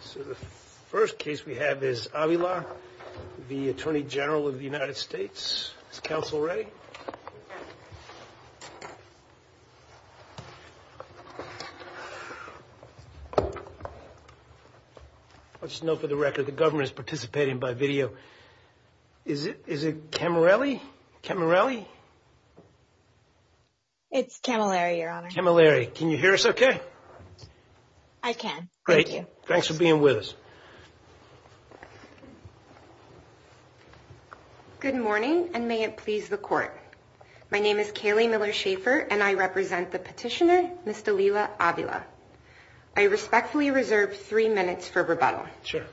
So the first case we have is Avila v. Attorney General of the United States. Is counsel ready? I'll just note for the record the government is participating by video. Is it is it Camarelli? Camarelli? It's Camilleri, your honor. Camilleri. Can you hear me? Yes. Thank you. Thanks for being with us. Good morning and may it please the court. My name is Kaylee Miller-Shafer and I represent the petitioner, Ms. Dalila Avila. I respectfully reserve three minutes for rebuttal. Sure.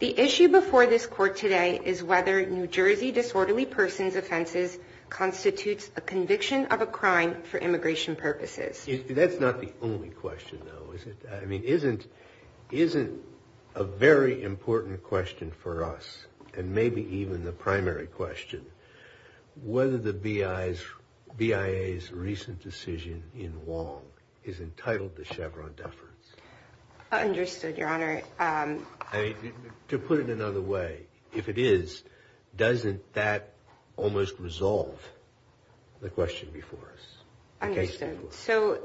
The issue before this court today is whether New Jersey disorderly persons offenses constitutes a conviction of a crime for immigration purposes. That's not the only question though, is it? I mean isn't isn't a very important question for us and maybe even the primary question whether the BIA's recent decision in Wong is entitled to Chevron deference? Understood, your honor. To put it another way, if it is, doesn't that almost resolve the question before us? Understood. So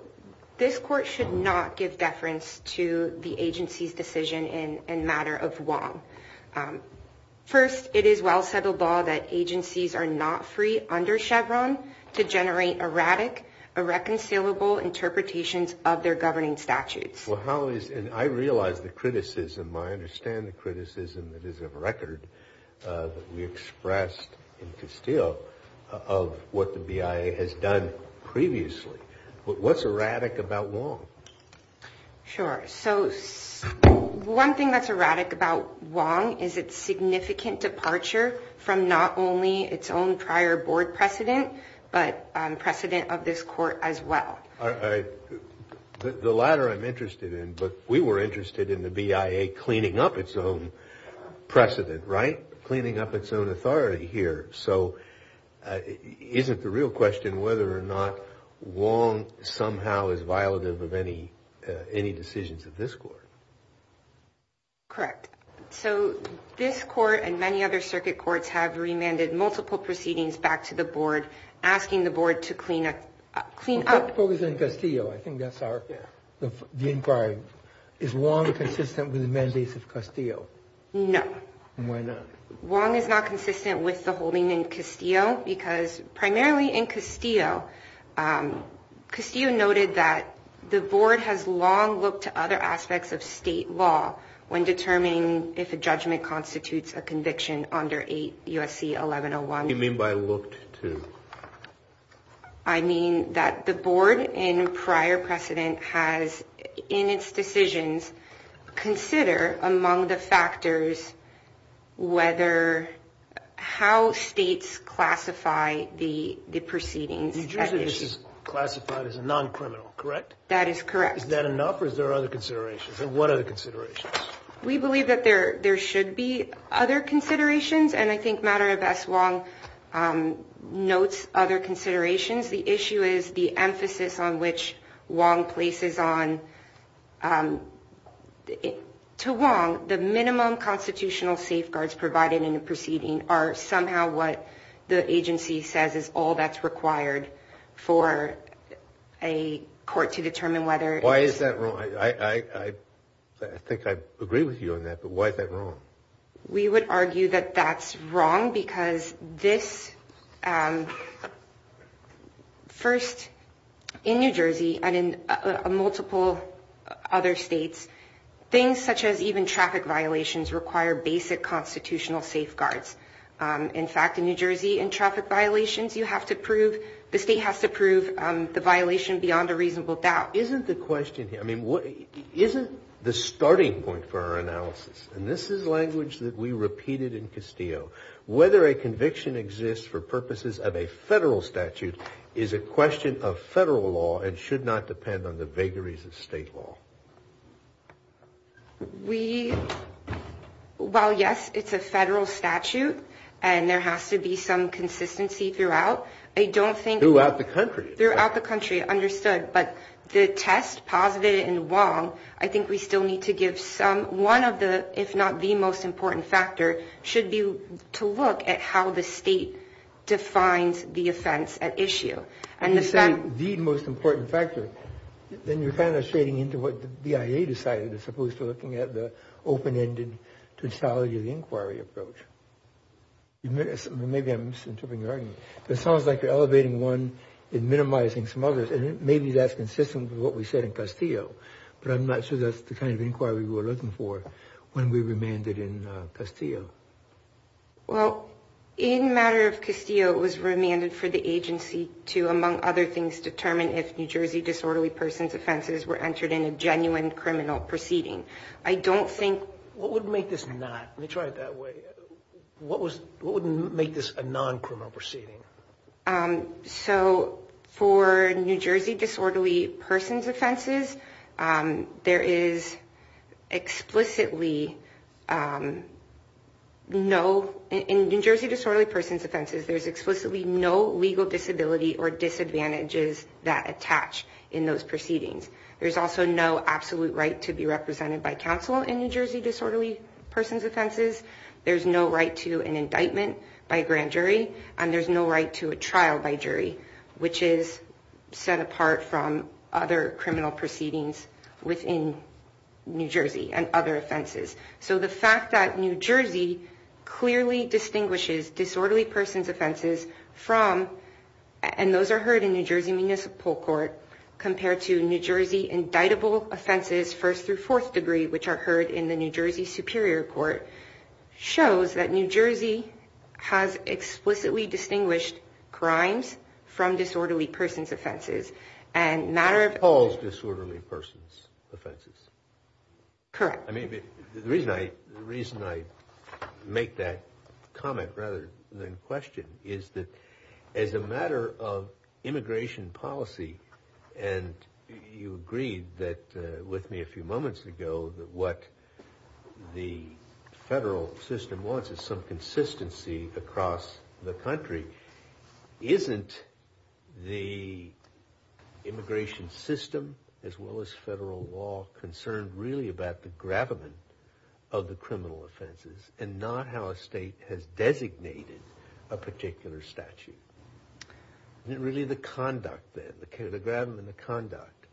this court should not give deference to the agency's decision in a matter of Wong. First, it is well settled law that agencies are not free under Chevron to generate erratic, irreconcilable interpretations of their governing statutes. Well how is and I realize the criticism, I understand the criticism that is of record, that we expressed in Castillo of what the BIA has done previously, but what's erratic about Wong? Sure, so one thing that's erratic about Wong is its significant departure from not only its own prior board precedent, but precedent of this court as well. The latter I'm interested in, but we were interested in the BIA cleaning up its own precedent, right? Cleaning up its own authority here. So isn't the real question whether or not Wong somehow is violative of any any decisions of this court? Correct. So this court and many other circuit courts have remanded multiple proceedings back to the board asking the board to clean up. The focus in Castillo, I think that's our inquiry, is Wong consistent with the mandates of Castillo? No. Why not? Wong is not consistent with the holding in Castillo because primarily in Castillo, Castillo noted that the board has long looked to other aspects of state law when determining if a board in prior precedent has in its decisions consider among the factors whether how states classify the the proceedings. New Jersey this is classified as a non-criminal, correct? That is correct. Is that enough or is there other considerations? And what are the considerations? We believe that there there should be other considerations and I think matter of as Wong notes other considerations, the issue is the emphasis on which Wong places on. To Wong, the minimum constitutional safeguards provided in a proceeding are somehow what the agency says is all that's required for a court to determine whether. Why is that wrong? I think I agree with you on that, but why is that wrong? We would argue that that's wrong because this first in New Jersey and in multiple other states, things such as even traffic violations require basic constitutional safeguards. In fact, in New Jersey and traffic violations you have to prove the state has to prove the violation beyond a reasonable doubt. Isn't the question here, I mean what isn't the question, is whether a conviction exists for purposes of a federal statute is a question of federal law and should not depend on the vagaries of state law. We, well yes, it's a federal statute and there has to be some consistency throughout. I don't think. Throughout the country. Throughout the country, understood, but the test positive in Wong, I think we still need to give one of the, if not the most important factor, should be to look at how the state defines the offense at issue. You say the most important factor, then you're kind of shading into what the BIA decided as opposed to looking at the open-ended to the inquiry approach. Maybe I'm misinterpreting your argument. It sounds like you're elevating one and minimizing some others and maybe that's consistent with what we said in Castillo, but I'm not sure that's the kind of approach that we're looking for when we remanded in Castillo. Well, in matter of Castillo, it was remanded for the agency to, among other things, determine if New Jersey disorderly person's offenses were entered in a genuine criminal proceeding. I don't think. What would make this not? Let me try it that way. What was, what would make this a non-criminal proceeding? So for New Jersey disorderly person's offenses, there's explicitly no legal disability or disadvantages that attach in those proceedings. There's also no absolute right to be represented by counsel in New Jersey disorderly person's offenses. There's no right to an indictment by a grand jury and there's no right to a trial by jury, which is set apart from other criminal proceedings within New Jersey and other offenses. So the fact that New Jersey clearly distinguishes disorderly person's offenses from, and those are heard in New Jersey Municipal Court, compared to New Jersey indictable offenses first through fourth degree, which are heard in the New Jersey Superior Court, shows that New Jersey has explicitly distinguished crimes from disorderly person's offenses. The reason I make that comment rather than question is that as a matter of immigration policy, and you agreed with me a few moments ago that what the federal system wants is some about the gravamen of the criminal offenses and not how a state has designated a particular statute. Is it really the conduct then, the gravamen of conduct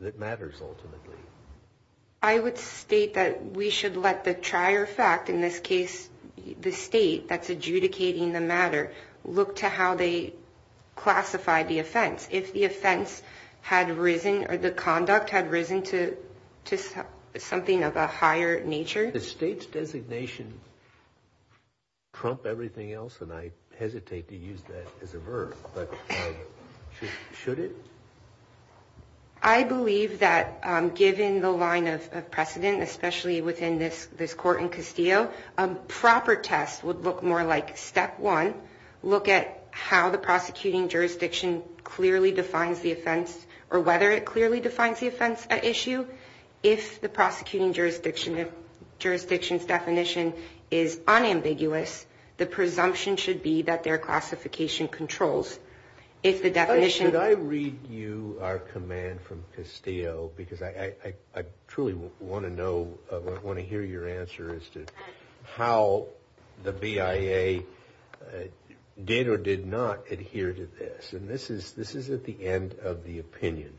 that matters ultimately? I would state that we should let the trier fact, in this case the state that's adjudicating the matter, look to how they classify the offense. If the offense had risen or the conduct had risen to something of a higher nature. The state's designation trump everything else and I hesitate to use that as a verb, but should it? I believe that given the line of precedent, especially within this court in Castillo, a proper test would look more like step one, look at how the prosecuting jurisdiction clearly defines the offense or whether it clearly defines the offense at issue. If the prosecuting jurisdiction's definition is unambiguous, the presumption should be that their classification controls. If the definition... Could I read you our command from Castillo because I truly want to hear your answer as to how the BIA did or did not adhere to this. And this is at the end of the opinion,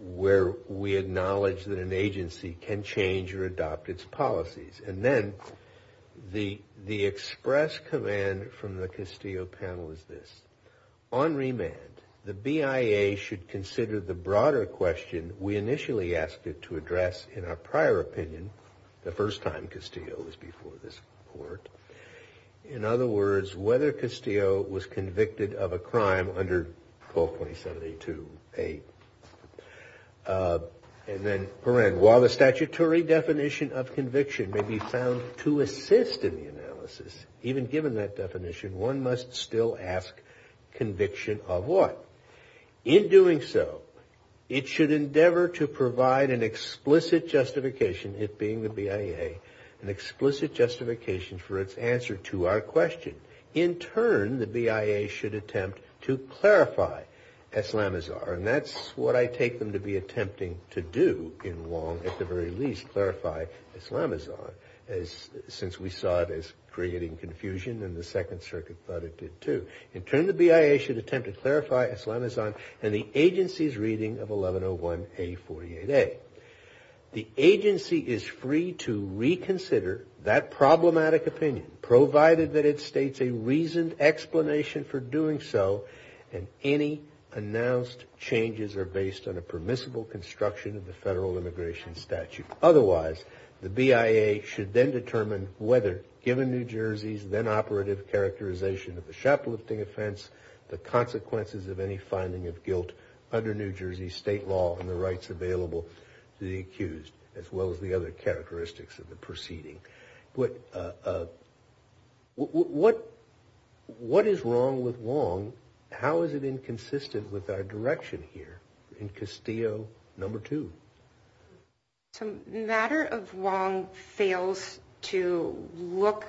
where we acknowledge that an agency can change or adopt its policies. And then the express command from the Castillo panel is this. On remand, the BIA should consider the broader question we initially asked it to address in our prior opinion, the first time Castillo was before this court. In other words, whether Castillo was convicted of a crime under 1227A2.8. And then, while the statutory definition of conviction may be found to assist in the analysis, even given that definition, one must still ask conviction of what? In doing so, it should for its answer to our question. In turn, the BIA should attempt to clarify Eslamizar. And that's what I take them to be attempting to do in Wong, at the very least, clarify Eslamizar, since we saw it as creating confusion and the Second Circuit thought it did too. In turn, the BIA should attempt to clarify Eslamizar in the agency's reading of 1101A48A. The agency is free to reconsider that problematic opinion, provided that it states a reasoned explanation for doing so and any announced changes are based on a permissible construction of the Federal Immigration Statute. Otherwise, the BIA should then determine whether, given New Jersey's then operative characterization of the shoplifting offense, the consequences of any to the accused, as well as the other characteristics of the proceeding. What is wrong with Wong? How is it inconsistent with our direction here in Castillo No. 2? So, the matter of Wong fails to look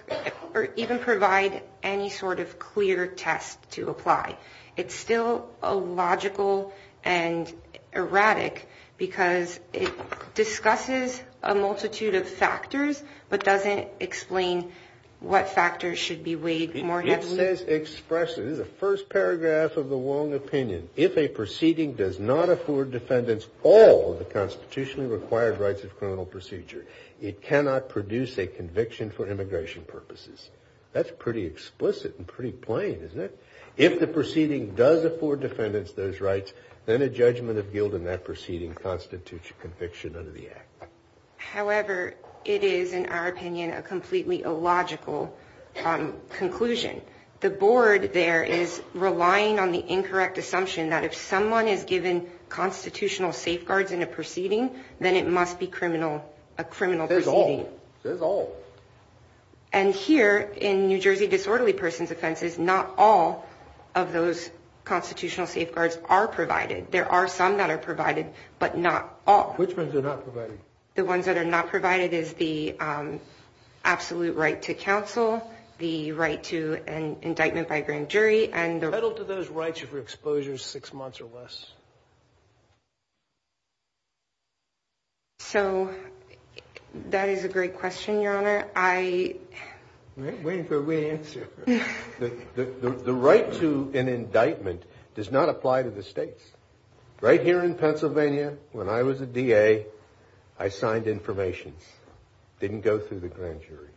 or even provide any sort of clear test to apply. It's still illogical and erratic because it discusses a multitude of factors but doesn't explain what factors should be weighed more heavily. It says expressly, this is the first paragraph of the Wong opinion, if a proceeding does not afford defendants all of the constitutionally required rights of criminal procedure, it cannot produce a conviction for immigration purposes. That's pretty explicit and pretty plain, isn't it? If the proceeding does afford defendants those rights, then a judgment of guilt in that proceeding constitutes a conviction under the Act. However, it is, in our opinion, a completely illogical conclusion. The board there is relying on the incorrect assumption that if someone is given constitutional safeguards in a proceeding, then it must be a criminal proceeding. And here, in New Jersey disorderly persons offenses, not all of those constitutional safeguards are provided. There are some that are provided, but not all. Which ones are not provided? The ones that are not provided is the absolute right to counsel, the right to an indictment by a grand jury, and the... So, that is a great question, Your Honor. I... We're waiting for a way to answer. The right to an indictment does not apply to the states. Right here in Pennsylvania, when I was a DA, I signed information. Didn't go through the grand jury.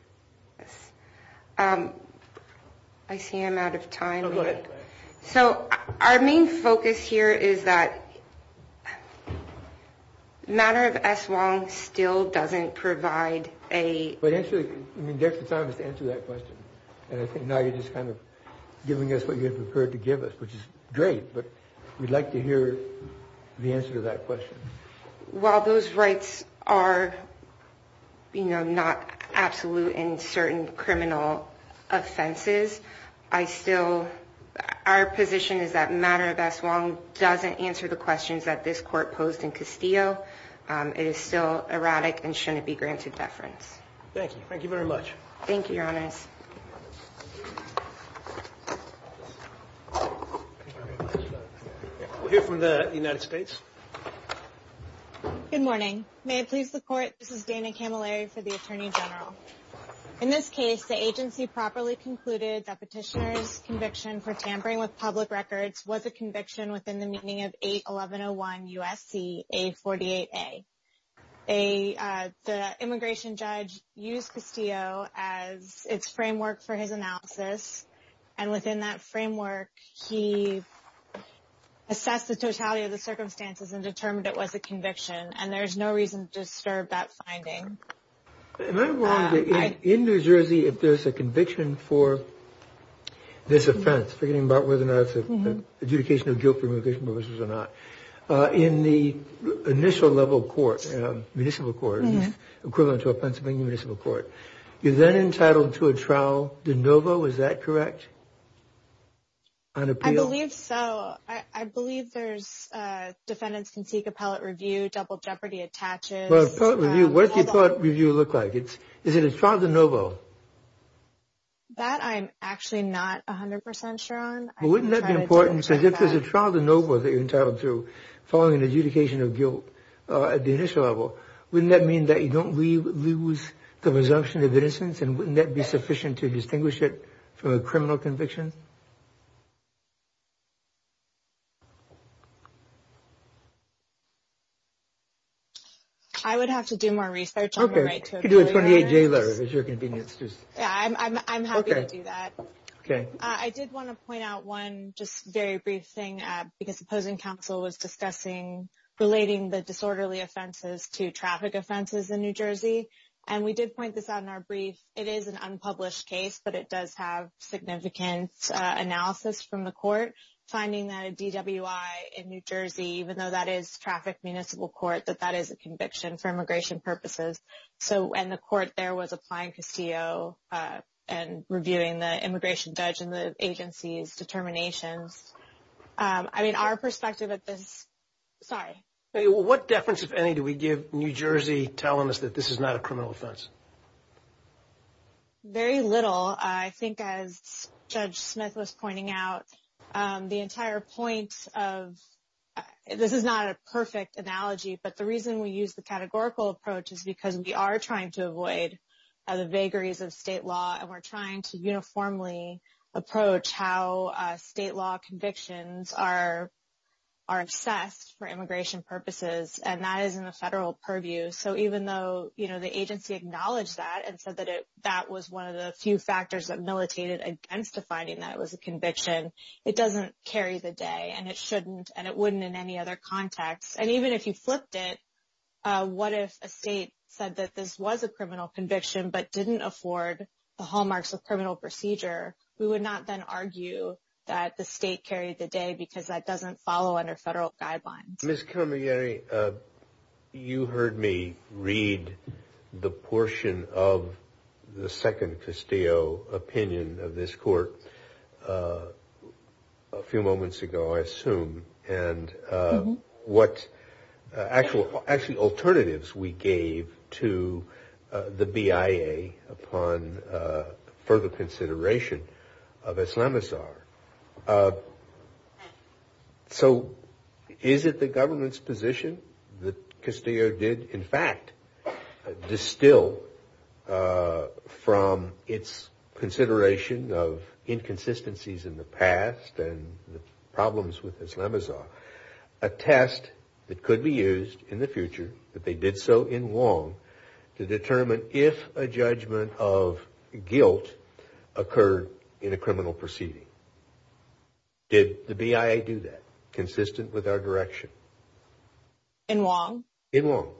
Yes. I see I'm out of time. Go ahead. So, our main focus here is that matter of S. Wong still doesn't provide a... But actually, I mean, there's the time to answer that question. And I think now you're just kind of giving us what you have prepared to give us, which is great, but we'd like to hear the answer to that question. While those rights are, you know, not absolute in certain criminal offenses, I still... Our position is that matter of S. Wong doesn't answer the questions that this court posed in Castillo. It is still erratic and shouldn't be granted deference. Thank you. Thank you very much. Thank you, Your Honors. We'll hear from the United States. Good morning. May it please the court, this is Dana Camilleri for the Attorney General. In this case, the agency properly concluded that petitioner's conviction for tampering with public records was a conviction within the meaning of 81101 U.S.C. A48A. The immigration judge used Castillo as its framework for his analysis, and within that framework, he assessed the totality of the circumstances and determined it was a conviction, Am I wrong to... In New Jersey, if there's a conviction for this offense, forgetting about whether or not it's an adjudication of guilt for immigration purposes or not, in the initial level court, municipal court, equivalent to a Pennsylvania municipal court, you're then entitled to a trial de novo, is that correct? I believe so. I believe there's... Defendants can seek appellate review, double jeopardy attaches. What does the appellate review look like? Is it a trial de novo? That I'm actually not 100% sure on. Wouldn't that be important, because if there's a trial de novo that you're entitled to following an adjudication of guilt at the initial level, wouldn't that mean that you don't lose the presumption of innocence, and wouldn't that be sufficient to distinguish it from a criminal conviction? I would have to do more research. Okay. You could do a 28-day letter, if it's your convenience. I'm happy to do that. I did want to point out one just very brief thing, because opposing counsel was discussing relating the disorderly offenses to traffic offenses in New Jersey, and we did point this out in our brief. It is an unpublished case, but it does have significant analysis from the court, finding that a DWI in New Jersey, even though that is traffic municipal court, that that is a conviction for immigration purposes. And the court there was applying Castillo and reviewing the immigration judge and the agency's determinations. I mean, our perspective at this... Sorry. What deference, if any, do we give New Jersey telling us that this is not a criminal offense? Very little. I think as Judge Smith was pointing out, the entire point of... This is not a perfect analogy, but the reason we use the categorical approach is because we are trying to avoid the vagaries of state law, and we're trying to uniformly approach how state law convictions are assessed for immigration purposes, and that is in a federal purview. So even though the agency acknowledged that and said that that was one of the few factors that militated against defining that it was a conviction, it doesn't carry the day, and it shouldn't, in any other context. And even if you flipped it, what if a state said that this was a criminal conviction but didn't afford the hallmarks of criminal procedure? We would not then argue that the state carried the day because that doesn't follow under federal guidelines. Ms. Camarieri, you heard me read the portion of the second Castillo opinion of this court a few moments ago, I assume, and what actual alternatives we gave to the BIA upon further consideration of Islamazar. So is it the government's position that Castillo did, in fact, distill from its consideration of inconsistencies in the past and the problems with Islamazar, a test that could be used in the future, that they did so in Wong, to determine if a judgment of guilt occurred in a criminal proceeding? Did the BIA do that, consistent with our direction? In Wong? In Wong.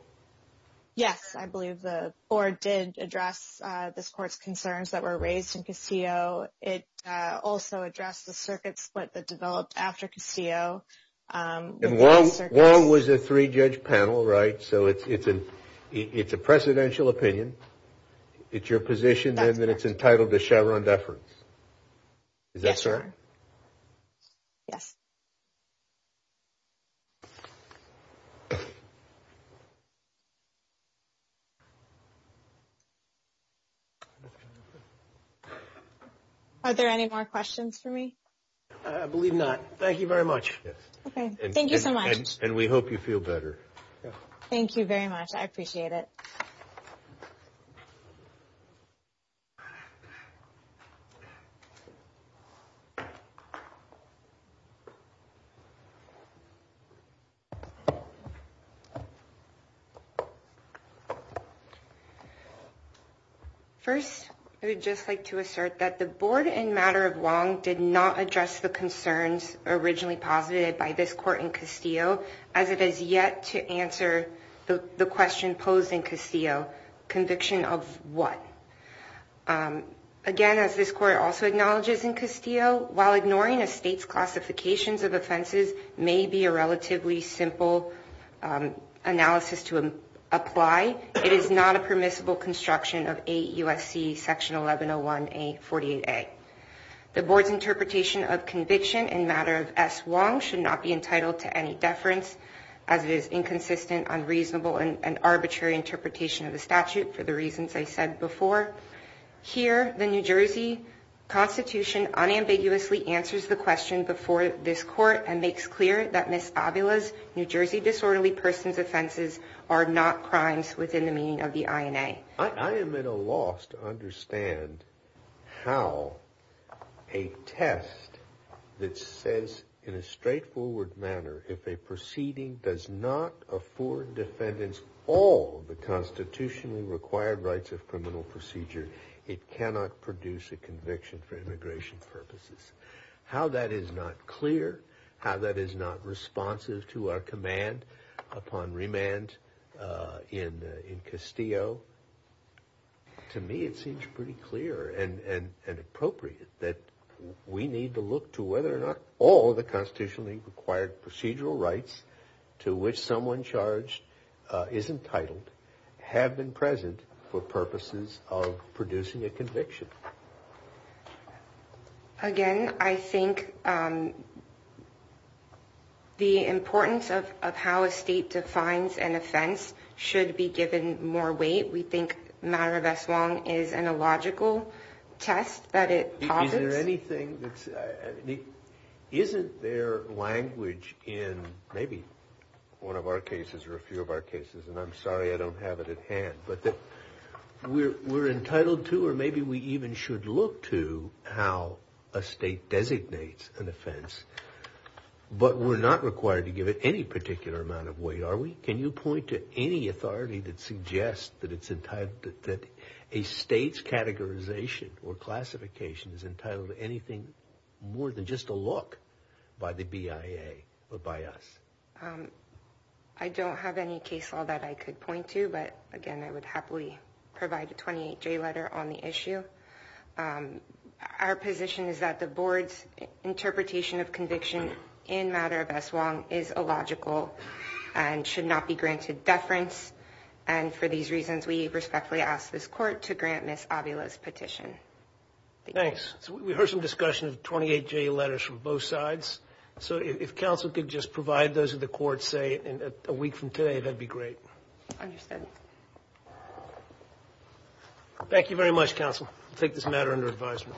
Yes, I believe the board did address this court's concerns that were raised in Castillo. It also addressed the circuit split that developed after Castillo. Wong was a three-judge panel, right? So it's a presidential opinion. It's your position then that it's entitled to Chevron deference? Yes, sir. Yes. Are there any more questions for me? I believe not. Thank you very much. Okay, thank you so much. And we hope you feel better. Thank you very much. I appreciate it. Thank you. First, I would just like to assert that the board in matter of Wong did not address the concerns originally posited by this court in Castillo, as it has yet to answer the question posed in Castillo, conviction of what? Again, as this court also acknowledges in Castillo, while ignoring a state's classifications of offenses may be a relatively simple analysis to apply, it is not a permissible construction of 8 U.S.C. Section 1101A48A. The board's interpretation of conviction in matter of S. Wong should not be entitled to any deference, as it is inconsistent, unreasonable, and arbitrary interpretation of the statute for the reasons I said before. Here, the New Jersey Constitution unambiguously answers the question before this court and makes clear that Ms. Avila's New Jersey disorderly persons offenses are not crimes within the meaning of the INA. I am at a loss to understand how a test that says in a straightforward manner, if a proceeding does not afford defendants all the constitutionally required rights of how that is not clear, how that is not responsive to our command upon remand in Castillo. To me, it seems pretty clear and appropriate that we need to look to whether or not all the constitutionally required procedural rights to which someone charged is entitled have been present for purposes of producing a conviction. Again, I think the importance of how a state defines an offense should be given more weight. We think matter of S. Wong is an illogical test that it posits. Is there anything that's, isn't there language in maybe one of our cases or a few of our cases, and I'm sorry I don't have it at hand, but that we're entitled to or maybe we even should look to how a state designates an offense, but we're not required to give it any particular amount of weight, are we? Can you point to any authority that suggests that a state's categorization or classification is entitled to anything more than just a look by the BIA or by us? I don't have any case law that I could point to, but again, I would happily provide a 28-J letter on the issue. Our position is that the board's interpretation of conviction in matter of S. Wong is illogical and should not be granted deference, and for these reasons we respectfully ask this court to grant Ms. Avila's petition. Thanks. So we heard some discussion of 28-J letters from both sides, so if counsel could just provide those to the court, say a week from today, that'd be great. Understood. Thank you very much, counsel. We'll take this matter under advisement.